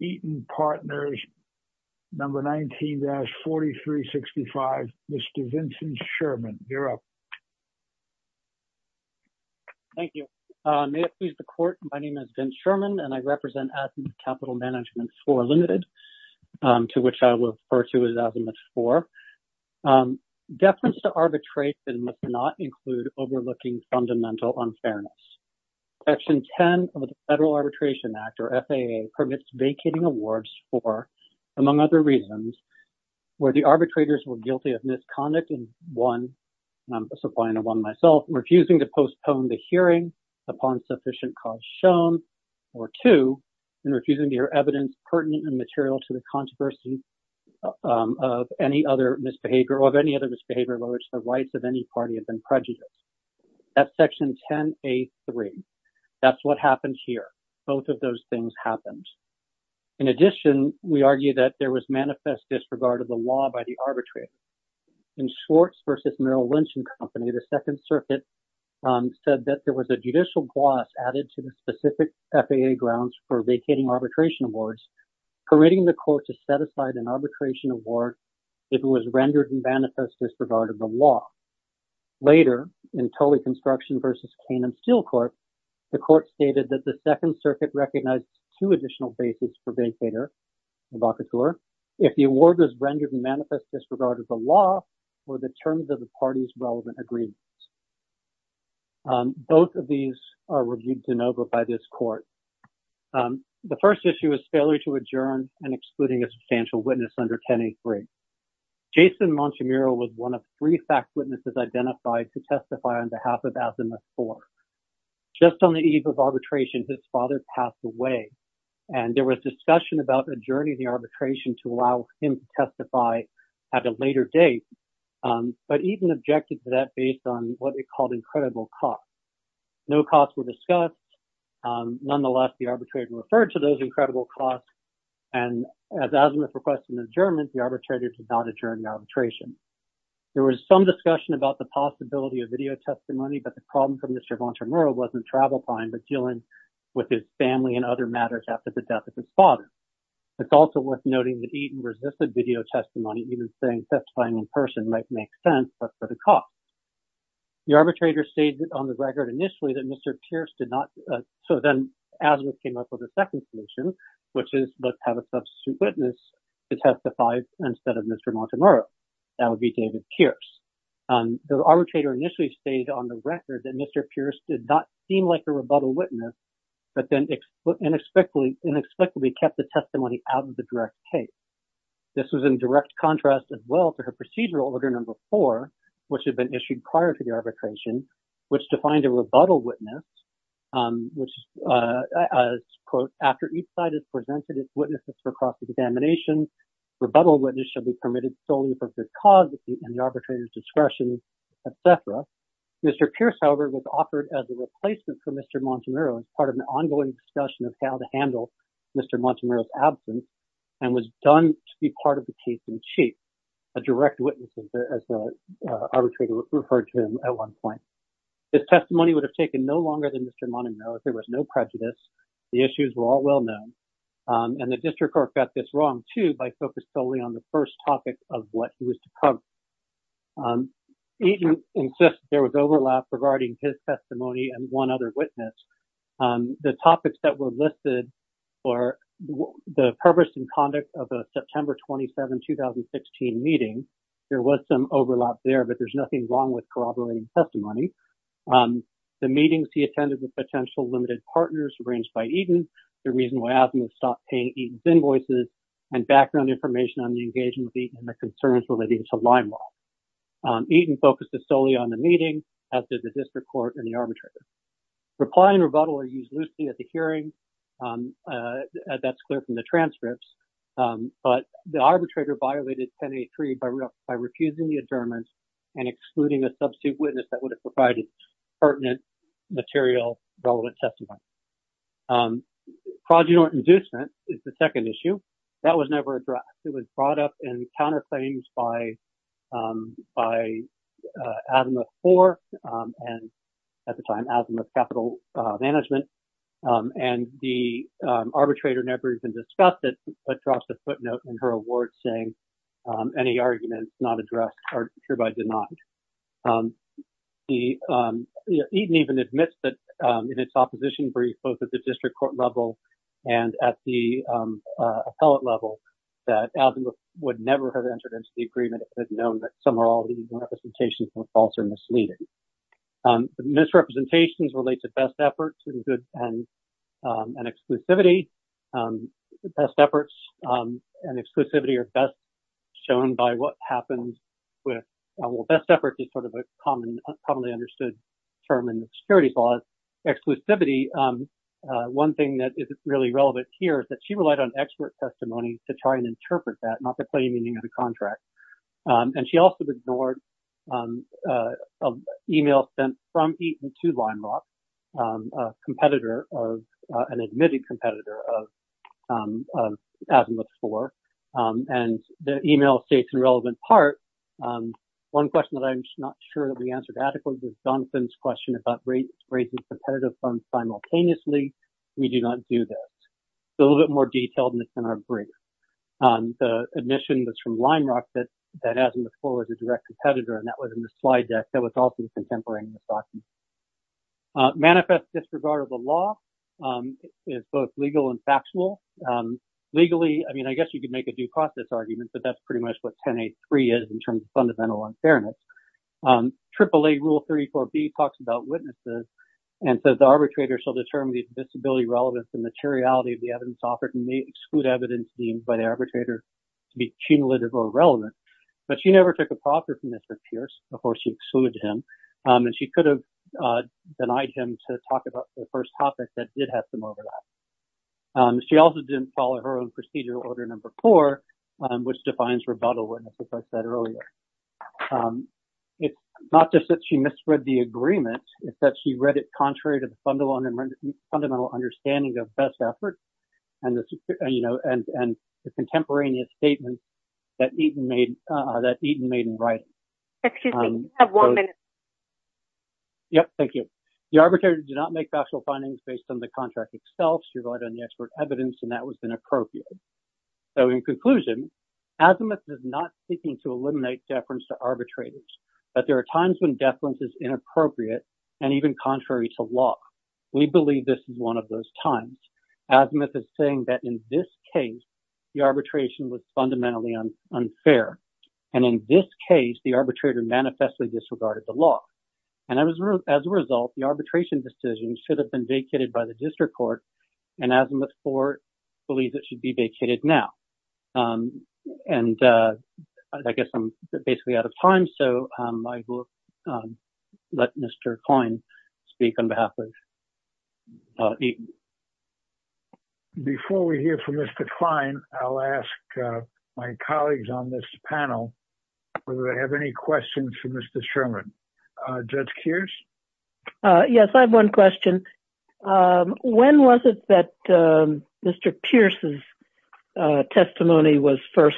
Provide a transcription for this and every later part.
Eaton Partners, Number 19-4365, Mr. Vincent Sherman. You're up. Thank you. May it please the Court, my name is Vince Sherman and I represent Azimuth Capital Management IV Limited, to which I will refer to as Azimuth IV. Deference to arbitration must not include overlooking fundamental unfairness. Section 10 of the Federal Arbitration Act, or FAA, permits vacating awards for, among other reasons, where the arbitrators were guilty of misconduct in, one, and I'm supplying a one myself, refusing to postpone the hearing upon sufficient cause shown, or two, in refusing to hear evidence pertinent and material to the controversy of any other misbehavior or of any other misbehavior by which the rights of any A3. That's what happened here. Both of those things happened. In addition, we argue that there was manifest disregard of the law by the arbitrator. In Schwartz v. Merrill Lynch and Company, the Second Circuit said that there was a judicial gloss added to the specific FAA grounds for vacating arbitration awards permitting the court to set aside an arbitration award if it rendered in manifest disregard of the law. Later, in Tolley Construction v. Cane and Steel Court, the court stated that the Second Circuit recognized two additional bases for vacator and vacateur if the award was rendered in manifest disregard of the law or the terms of the party's relevant agreements. Both of these are reviewed de novo by this court. The first issue is failure to adjourn and excluding a substantial witness under 1083. Jason Montemuro was one of three fact witnesses identified to testify on behalf of Azimuth IV. Just on the eve of arbitration, his father passed away, and there was discussion about adjourning the arbitration to allow him to testify at a later date, but even objected to that based on what they called incredible costs. No costs were discussed. Nonetheless, the arbitrator referred to incredible costs, and as Azimuth requested an adjournment, the arbitrator did not adjourn the arbitration. There was some discussion about the possibility of video testimony, but the problem for Mr. Montemuro wasn't travel time, but dealing with his family and other matters after the death of his father. It's also worth noting that Eaton resisted video testimony, even saying testifying in person might make sense, but for the cost. The arbitrator stated on the record initially that Mr. Pierce did not, so then Azimuth came up with a second solution, which is let's have a substitute witness to testify instead of Mr. Montemuro. That would be David Pierce. The arbitrator initially stated on the record that Mr. Pierce did not seem like a rebuttal witness, but then inexplicably kept the testimony out of the direct case. This was in direct contrast as well to her procedural order number four, which had been issued prior to the arbitration, which defined a rebuttal witness, which is, quote, after each side has presented its witnesses for cross-examination, rebuttal witness shall be permitted solely for good cause and the arbitrator's discretion, et cetera. Mr. Pierce, however, was offered as a replacement for Mr. Montemuro as part of an ongoing discussion of how to handle Mr. Montemuro's absence and was done to be part of case in chief, a direct witness as the arbitrator referred to him at one point. His testimony would have taken no longer than Mr. Montemuro if there was no prejudice. The issues were all well known, and the district court got this wrong too by focused solely on the first topic of what he was to cover. Agent insists there was overlap regarding his testimony and one other witness. The topics that were listed were the purpose and conduct of a September 27, 2016 meeting. There was some overlap there, but there's nothing wrong with corroborating testimony. The meetings he attended with potential limited partners arranged by Eaton, the reason why Adam had stopped paying Eaton's invoices, and background information on the engagement of Eaton and the concerns related to Limelight. Eaton focused solely on the meeting as did the district court and the arbitrator. Reply and rebuttal are used loosely at the hearing. That's clear from the transcripts, but the arbitrator violated 1083 by refusing the adjournment and excluding a substitute witness that would have provided pertinent material relevant testimony. Progeny inducement is the second issue. That was never addressed. It was and at the time, Asimov's capital management and the arbitrator never even discussed it, but dropped a footnote in her award saying any arguments not addressed are hereby denied. Eaton even admits that in its opposition brief, both at the district court level and at the appellate level, that Asimov would never have entered into the agreement if it had known that some or all of these representations were false or misleading. Misrepresentations relate to best efforts and good and exclusivity. Best efforts and exclusivity are best shown by what happens with, well, best efforts is sort of a commonly understood term in the securities law. Exclusivity, one thing that is really relevant here is that she relied on expert testimony to try and interpret that, not to play meaning of the contract. And she also ignored an email sent from Eaton to Leimbach, a competitor of, an admitted competitor of Asimov's score. And the email states in relevant part, one question that I'm not sure that we answered adequately was Jonathan's question about raising competitive funds simultaneously. We do not do that. It's a little bit more detailed than it's in our brief. The admission that's from Leimbach that Asimov's score was a direct competitor, and that was in the slide deck. That was also the contemporary in this document. Manifest disregard of the law is both legal and factual. Legally, I mean, I guess you could make a due process argument, but that's pretty much what 10A.3 is in terms of fundamental unfairness. AAA rule 34B talks about witnesses and says the arbitrator shall determine the visibility relevance and materiality of the evidence offered and may exclude evidence deemed by the arbitrator to be cumulative or irrelevant. But she never took a proffer from Mr. Pierce, of course she excluded him, and she could have denied him to talk about the first topic that did have some overlap. She also didn't follow her own procedural order number four, which defines rebuttal, as I said earlier. It's not just that she misread the agreement, it's that she read it contrary to the fundamental understanding of best efforts and the contemporaneous statements that Eaton made in writing. Excuse me, you have one minute. Yep, thank you. The arbitrator did not make factual findings based on the contract itself. Evidence and that was been appropriate. So in conclusion, Azimuth is not seeking to eliminate deference to arbitrators, but there are times when deference is inappropriate and even contrary to law. We believe this is one of those times. Azimuth is saying that in this case, the arbitration was fundamentally unfair. And in this case, the arbitrator manifestly disregarded the law. And as a result, the arbitration decision should have been vacated by the district court and Azimuth court believes it should be vacated now. And I guess I'm basically out of time. So I will let Mr. Klein speak on behalf of Eaton. Before we hear from Mr. Klein, I'll ask my colleagues on this panel, whether they have any questions for Mr. Sherman. Judge Kears? Yes, I have one question. When was it that Mr. Pierce's testimony was first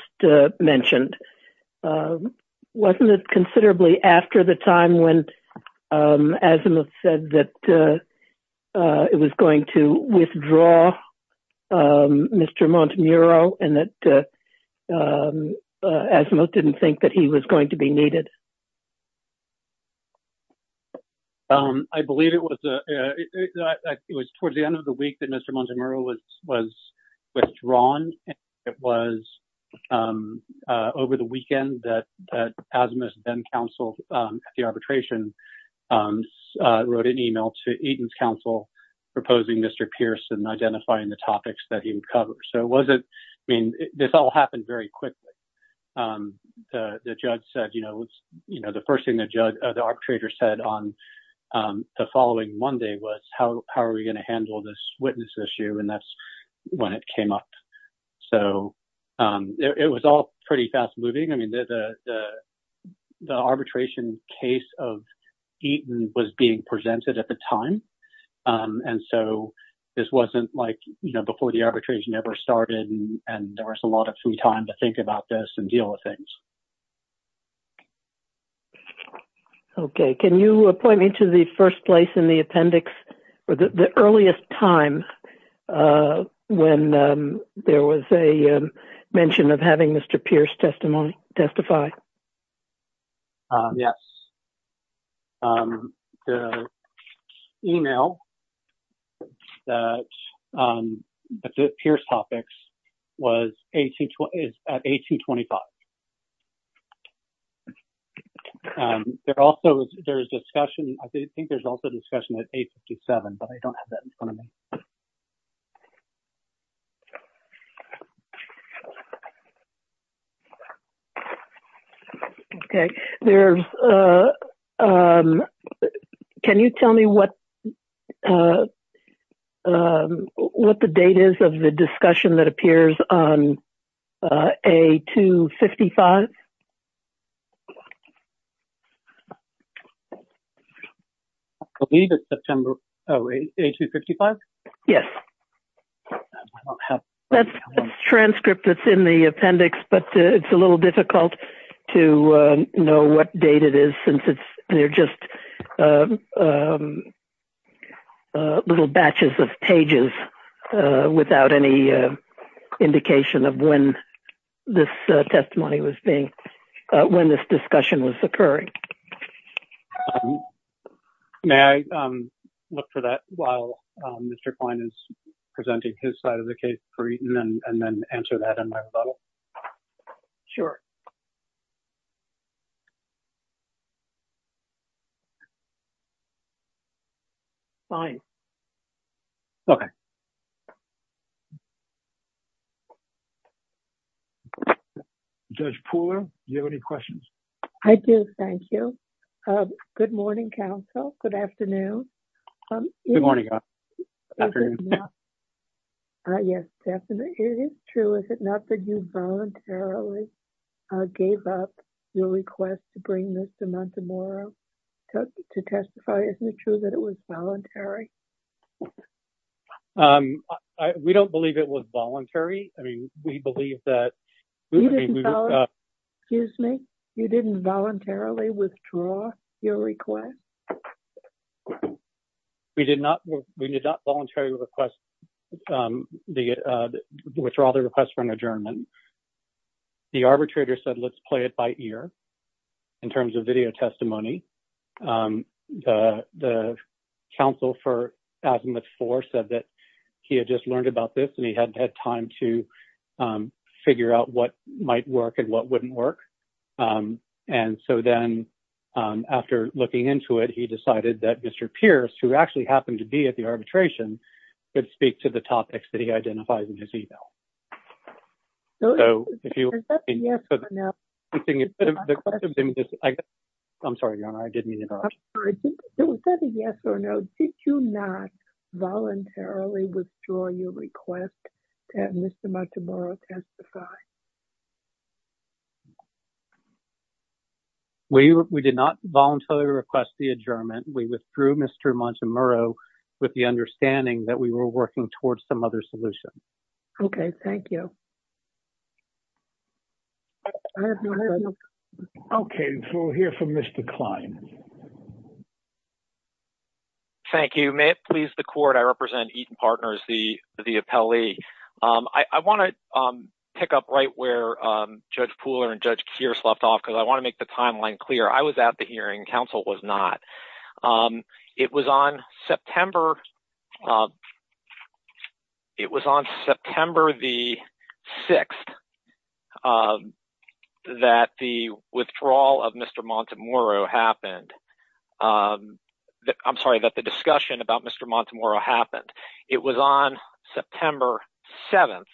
mentioned? Wasn't it considerably after the time when Azimuth said that it was going to withdraw Mr. Montemuro and that Azimuth didn't think that he was going to be needed? I believe it was towards the end of the week that Mr. Montemuro was withdrawn. It was over the weekend that Azimuth's then counsel at the arbitration wrote an email to Eaton's counsel proposing Mr. Pierce and identifying the topics that he would cover. So it wasn't, I mean, this all happened very quickly. The judge said, you know, it's, you know, the arbitrator said on the following Monday was how are we going to handle this witness issue? And that's when it came up. So it was all pretty fast moving. I mean, the arbitration case of Eaton was being presented at the time. And so this wasn't like, you know, before the arbitration ever started. And there was a lot of free time to think about this and deal with things. Okay. Can you point me to the first place in the appendix or the earliest time when there was a mention of having Mr. Pierce testimony testify? Yes. The email that the Pierce topics was 18, is at 1825. There also, there's discussion, I think there's also discussion at 857, but I don't have that in front of me. Okay. There's, can you tell me what, what the date is of the discussion that appears on A255? I believe it's September, oh, A255? Yes. That's the transcript that's in the appendix, but it's a little difficult to know what date it is since it's, they're just little batches of pages without any indication of when this testimony was being, when this discussion was occurring. May I look for that while Mr. Klein is presenting his side of the case for Eaton and then answer that in my rebuttal? Sure. Fine. Okay. Judge Pooler, do you have any questions? I do. Thank you. Good morning, counsel. Good afternoon. Good morning. Good afternoon. Yes, definitely. It is true, is it not that you voluntarily gave up your request to bring this to Montemaro to testify? Isn't it true that it was voluntary? We don't believe it was voluntary. I mean, we believe that. Excuse me? You didn't voluntarily withdraw your request? We did not voluntarily withdraw the request for an adjournment. The arbitrator said, let's play it by ear in terms of video testimony. The counsel for Azimuth 4 said that he had just learned about this and he hadn't had time to it. He decided that Mr. Pierce, who actually happened to be at the arbitration, could speak to the topics that he identifies in his email. Did you not voluntarily withdraw your request to have Mr. Montemaro testify? We did not voluntarily request the adjournment. We withdrew Mr. Montemaro with the understanding that we were working towards some other solution. Okay, thank you. Okay, so we'll hear from Mr. Klein. Thank you. May it please the court, I represent Eaton Partners, the Judge Pooler and Judge Pierce left off because I want to make the timeline clear. I was at the hearing. Counsel was not. It was on September the 6th that the withdrawal of Mr. Montemaro happened. I'm sorry, that the discussion about Mr. Montemaro happened. It was on September 7th.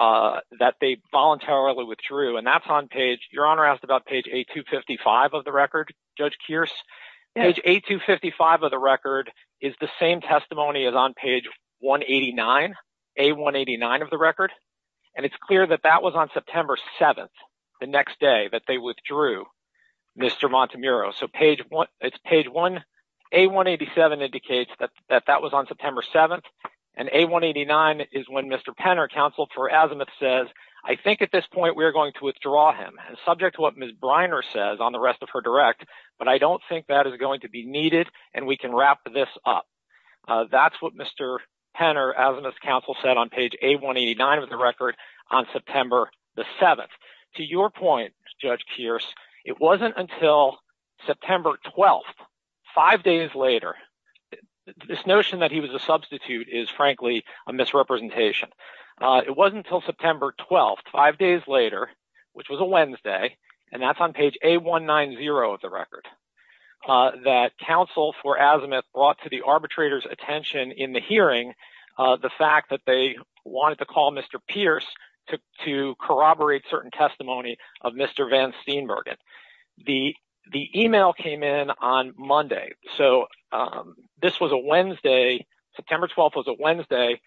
That they voluntarily withdrew and that's on page, Your Honor asked about page 8255 of the record, Judge Pierce. Page 8255 of the record is the same testimony as on page 189, A189 of the record. And it's clear that that was on September 7th, the next day that they withdrew Mr. Montemaro. So page 1, it's page 1, A187 indicates that that was on September 7th and A189 is when Mr. Penner, counsel for Azimuth says, I think at this point we're going to withdraw him and subject to what Ms. Briner says on the rest of her direct, but I don't think that is going to be needed and we can wrap this up. That's what Mr. Penner, Azimuth's counsel said on page A189 of the record on September the 7th. To your point, Judge Pierce, it wasn't until September 12th, five days later, this notion that he was a substitute is frankly a misrepresentation. It wasn't until September 12th, five days later, which was a Wednesday, and that's on page A190 of the record, that counsel for Azimuth brought to the arbitrator's attention in the hearing, the fact that they wanted to call Mr. Pierce to corroborate certain testimony of Mr. Van Steenbergen. The email came in on Monday, so this was a Wednesday, September 12th was a Wednesday.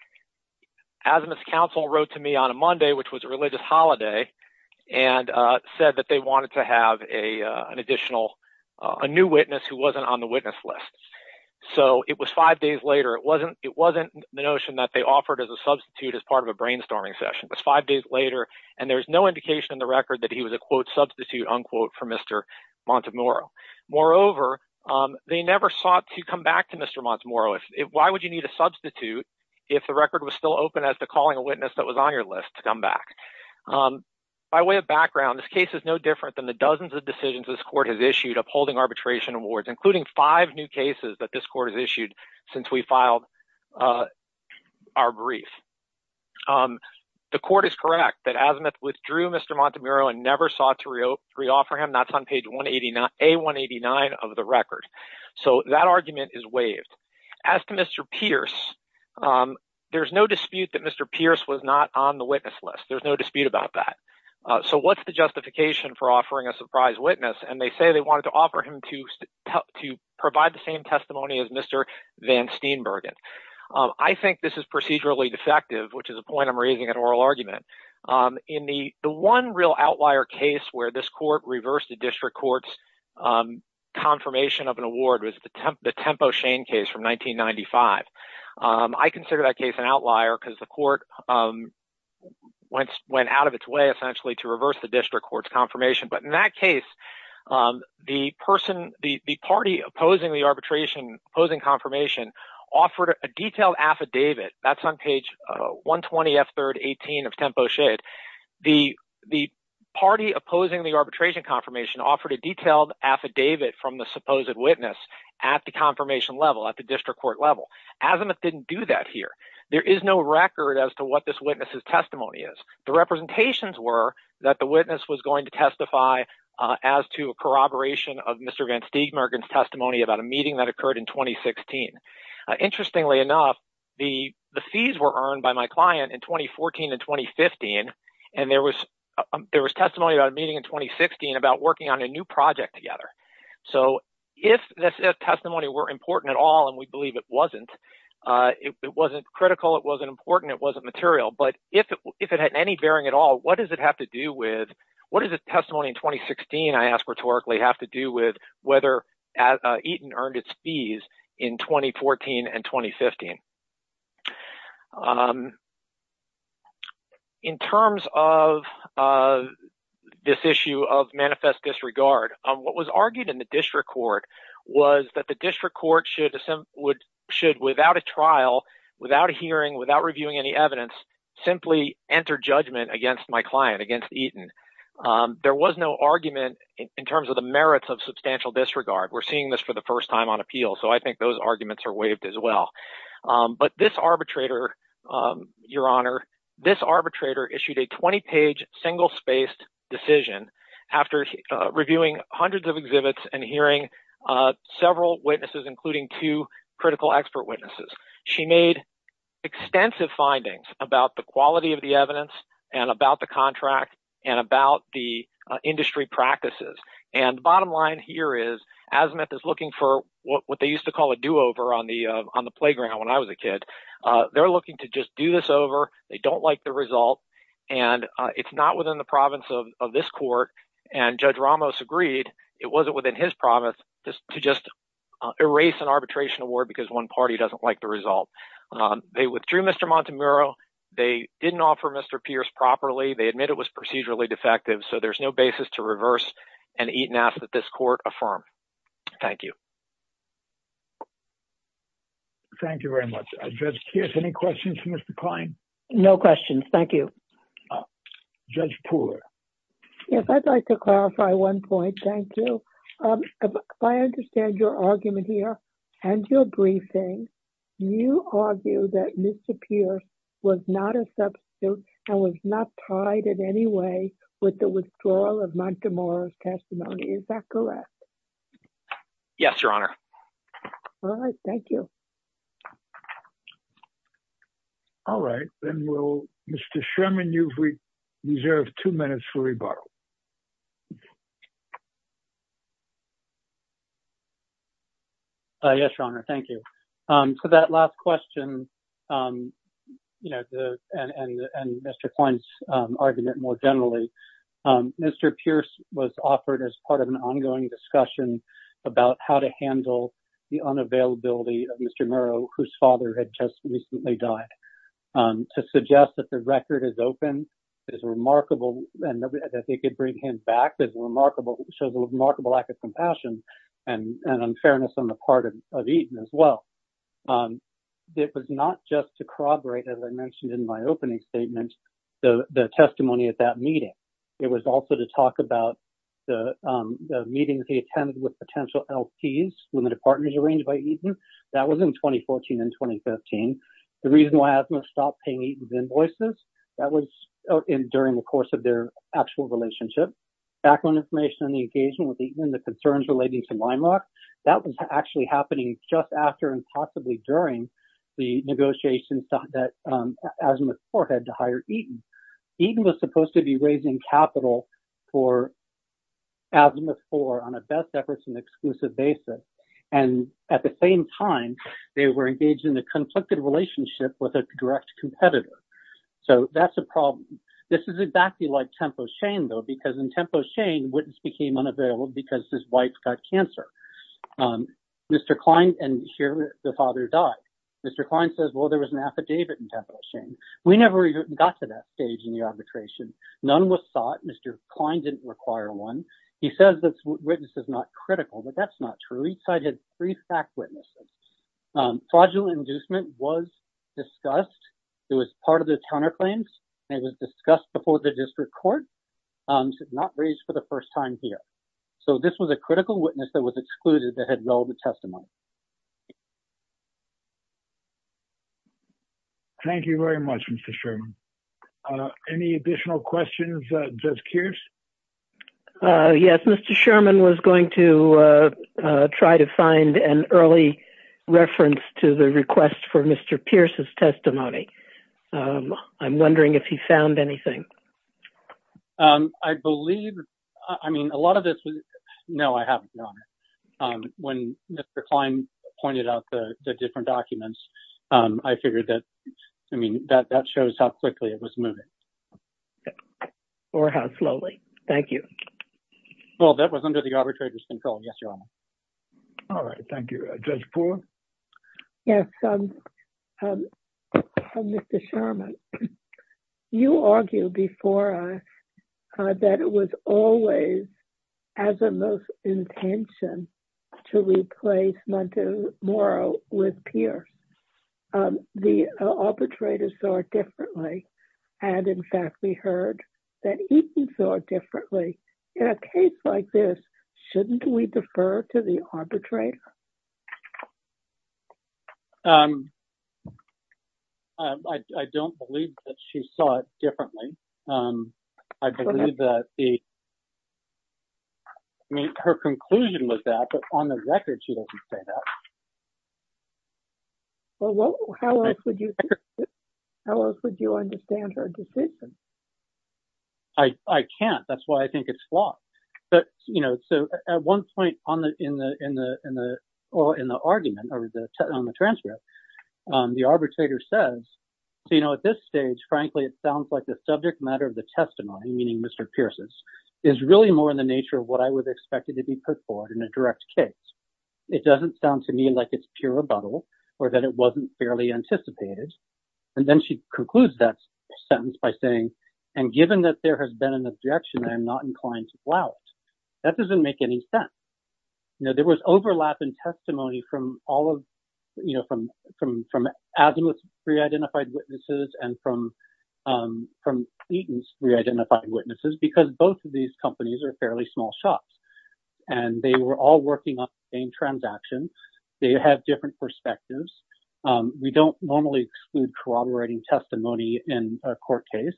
Azimuth's counsel wrote to me on a Monday, which was a religious holiday, and said that they wanted to have a new witness who wasn't on the witness list. So it was five days later. It wasn't the notion that they offered as a substitute as part of a brainstorming session. It was five days later and there's no indication in the record that he was a quote substitute unquote for Mr. Montemoro. Moreover, they never sought to come back to Mr. Montemoro. Why would you need a substitute if the record was still open as to calling a witness that was on your list to come back? By way of background, this case is no different than the dozens of decisions this court has issued upholding arbitration awards, including five new cases that this court has issued since we filed our brief. The court is correct that never sought to re-offer him. That's on page 189 of the record. So that argument is waived. As to Mr. Pierce, there's no dispute that Mr. Pierce was not on the witness list. There's no dispute about that. So what's the justification for offering a surprise witness? And they say they wanted to offer him to help to provide the same testimony as Mr. Van Steenbergen. I think this is procedurally defective, which is a point I'm raising at oral argument. In the one real outlier case where this court reversed the district court's confirmation of an award was the Tempo Shane case from 1995. I consider that case an outlier because the court went out of its way essentially to reverse the district court's confirmation. But in that case, the party opposing the arbitration, opposing confirmation, offered a detailed affidavit. That's on page 120F3-18 of Tempo Shane. The party opposing the arbitration confirmation offered a detailed affidavit from the supposed witness at the confirmation level, at the district court level. Azimuth didn't do that here. There is no record as to what this witness's testimony is. The representations were that the witness was going to testify as to corroboration of Mr. Van Steenbergen's testimony about a meeting that interestingly enough, the fees were earned by my client in 2014 and 2015, and there was testimony about a meeting in 2016 about working on a new project together. So if this testimony were important at all, and we believe it wasn't, it wasn't critical, it wasn't important, it wasn't material, but if it had any bearing at all, what does it have to do with, what does the testimony in 2016, I ask rhetorically, have to do with whether Eaton earned its fees in 2014 and 2015? In terms of this issue of manifest disregard, what was argued in the district court was that the district court should without a trial, without a hearing, without reviewing any evidence, simply enter judgment against my client, against Eaton. There was no argument in terms of the merits of substantial disregard. We're seeing this for the first time on appeal, so I think those arguments are waived as well. But this arbitrator, Your Honor, this arbitrator issued a 20-page single-spaced decision after reviewing hundreds of exhibits and hearing several witnesses, including two critical expert witnesses. She made extensive findings about the quality of the evidence and about the contract and about the industry practices, and the bottom line here is Azmuth is looking for what they used to call a do-over on the playground when I was a kid. They're looking to just do this over. They don't like the result, and it's not within the province of this court, and Judge Ramos agreed it wasn't within his province to just erase an arbitration award because one party doesn't like the result. They withdrew Mr. Montemurro. They didn't offer Mr. Pierce properly. They admit it was procedurally defective, so there's no basis to reverse an Eaton Act that this court affirmed. Thank you. Thank you very much. Judge Pierce, any questions for Mr. Klein? No questions. Thank you. Oh, Judge Pooler. Yes, I'd like to clarify one point. Thank you. If I understand your argument here and your briefing, you argue that Mr. Pierce was not a substitute and was not tied in any way with the withdrawal of Montemurro's testimony. Is that correct? Yes, Your Honor. All right. Thank you. All right. Then, Mr. Sherman, you've reserved two minutes for rebuttal. Yes, Your Honor. Thank you. That last question and Mr. Klein's argument more generally, Mr. Pierce was offered as part of an ongoing discussion about how to handle the unavailability of Mr. Murrow, whose father had just recently died, to suggest that the record is open, is remarkable, and that they could bring him back, shows a remarkable lack of compassion and unfairness on the part of Eaton as well. It was not just to corroborate, as I mentioned in my opening statement, the testimony at that meeting. It was also to talk about the meetings attended with potential LPs, Limited Partners arranged by Eaton. That was in 2014 and 2015. The reason why Asimov stopped paying Eaton's invoices, that was during the course of their actual relationship. Background information on the engagement with Eaton, the concerns relating to Weimark, that was actually happening just after and possibly during the negotiations that Asimov's core had to hire Eaton. Eaton was supposed to be raising capital for Asimov's on a best efforts and exclusive basis. At the same time, they were engaged in a conflicted relationship with a direct competitor. That's a problem. This is exactly like Tempo Shane, though, because in Tempo Shane, Witness became unavailable because his wife got cancer. Mr. Klein, and here the father died. Mr. Klein says, well, there was an affidavit in Tempo Shane. We never even got to that stage in the arbitration. None was sought. Mr. Klein didn't require one. He says this witness is not critical, but that's not true. Each side had three fact witnesses. Fraudulent inducement was discussed. It was part of the counterclaims. It was discussed before the district court. It was not raised for the first time here. This was a critical witness that was excluded that had relevant testimony. Thank you very much, Mr. Sherman. Any additional questions? Yes, Mr. Sherman was going to try to find an early reference to the request for Mr. Pierce's testimony. I'm wondering if he found anything. I believe, I mean, a lot of this, no, I haven't. When Mr. Klein pointed out the different documents, I figured that, I mean, that shows how quickly it was moving. Or how slowly. Thank you. Well, that was under the arbitrator's control. Yes, Your Honor. All right. Thank you. Judge Poole? Yes. Mr. Sherman, you argued before us that it was always as a most intention to replace Montemaro with Pierce. The arbitrator saw it differently. And, in fact, we heard that he saw it differently. In a case like this, shouldn't we defer to the arbitrator? I don't believe that she saw it differently. I believe that the, I mean, her conclusion was that. But on the record, she doesn't say that. Well, how else would you understand her decision? I can't. That's why I think it's flawed. But, you know, so at one point in the argument, or on the transcript, the arbitrator says, so, you know, at this stage, frankly, it sounds like the subject matter of the testimony, meaning Mr. Pierce's, is really more in the nature of what I would expect it to be put forward in a direct case. It doesn't sound to me like it's pure rebuttal, or that it wasn't fairly anticipated. And then she concludes that sentence by saying, and given that there has been an objection, I'm not inclined to allow it. That doesn't make any sense. You know, there was overlap in testimony from all of, you know, from Azimuth's re-identified witnesses and from Eaton's re-identified witnesses, because both of these companies are fairly small shops. And they were all working on the same transaction. They have different perspectives. We don't normally exclude corroborating testimony in a court case.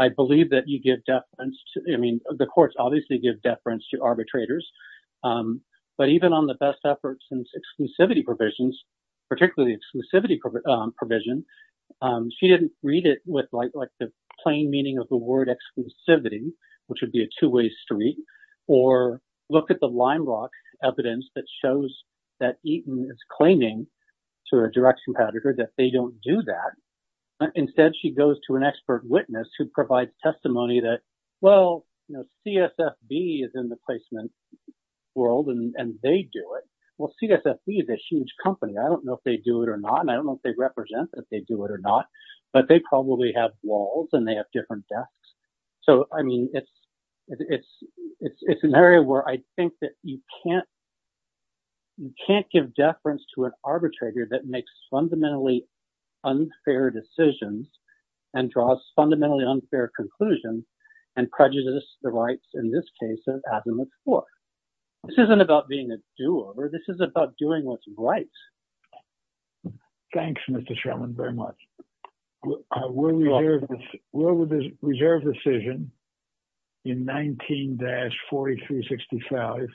I believe that you give deference, I mean, the courts obviously give deference to arbitrators. But even on the best efforts and exclusivity provisions, particularly exclusivity provision, she didn't read it with like the plain meaning of the word exclusivity, which would be a two-way street, or look at the line block evidence that shows that Eaton is claiming to a direct competitor that they don't do that. Instead, she goes to an expert witness who provides testimony that, well, you know, CSFB is in the placement world and they do it. Well, CSFB is a huge company. I don't know if they do it or not. And I don't know if they represent if they do it or not. But they probably have walls and they have different desks. So, I mean, it's an area where I think that you can't give deference to an arbitrator that makes fundamentally unfair decisions and draws fundamentally unfair conclusions and prejudices the rights in this case as in the court. This isn't about being a do-over. This is about doing what's right. Thanks, Mr. Sherman, very much. We're with the reserve decision in 19-4365.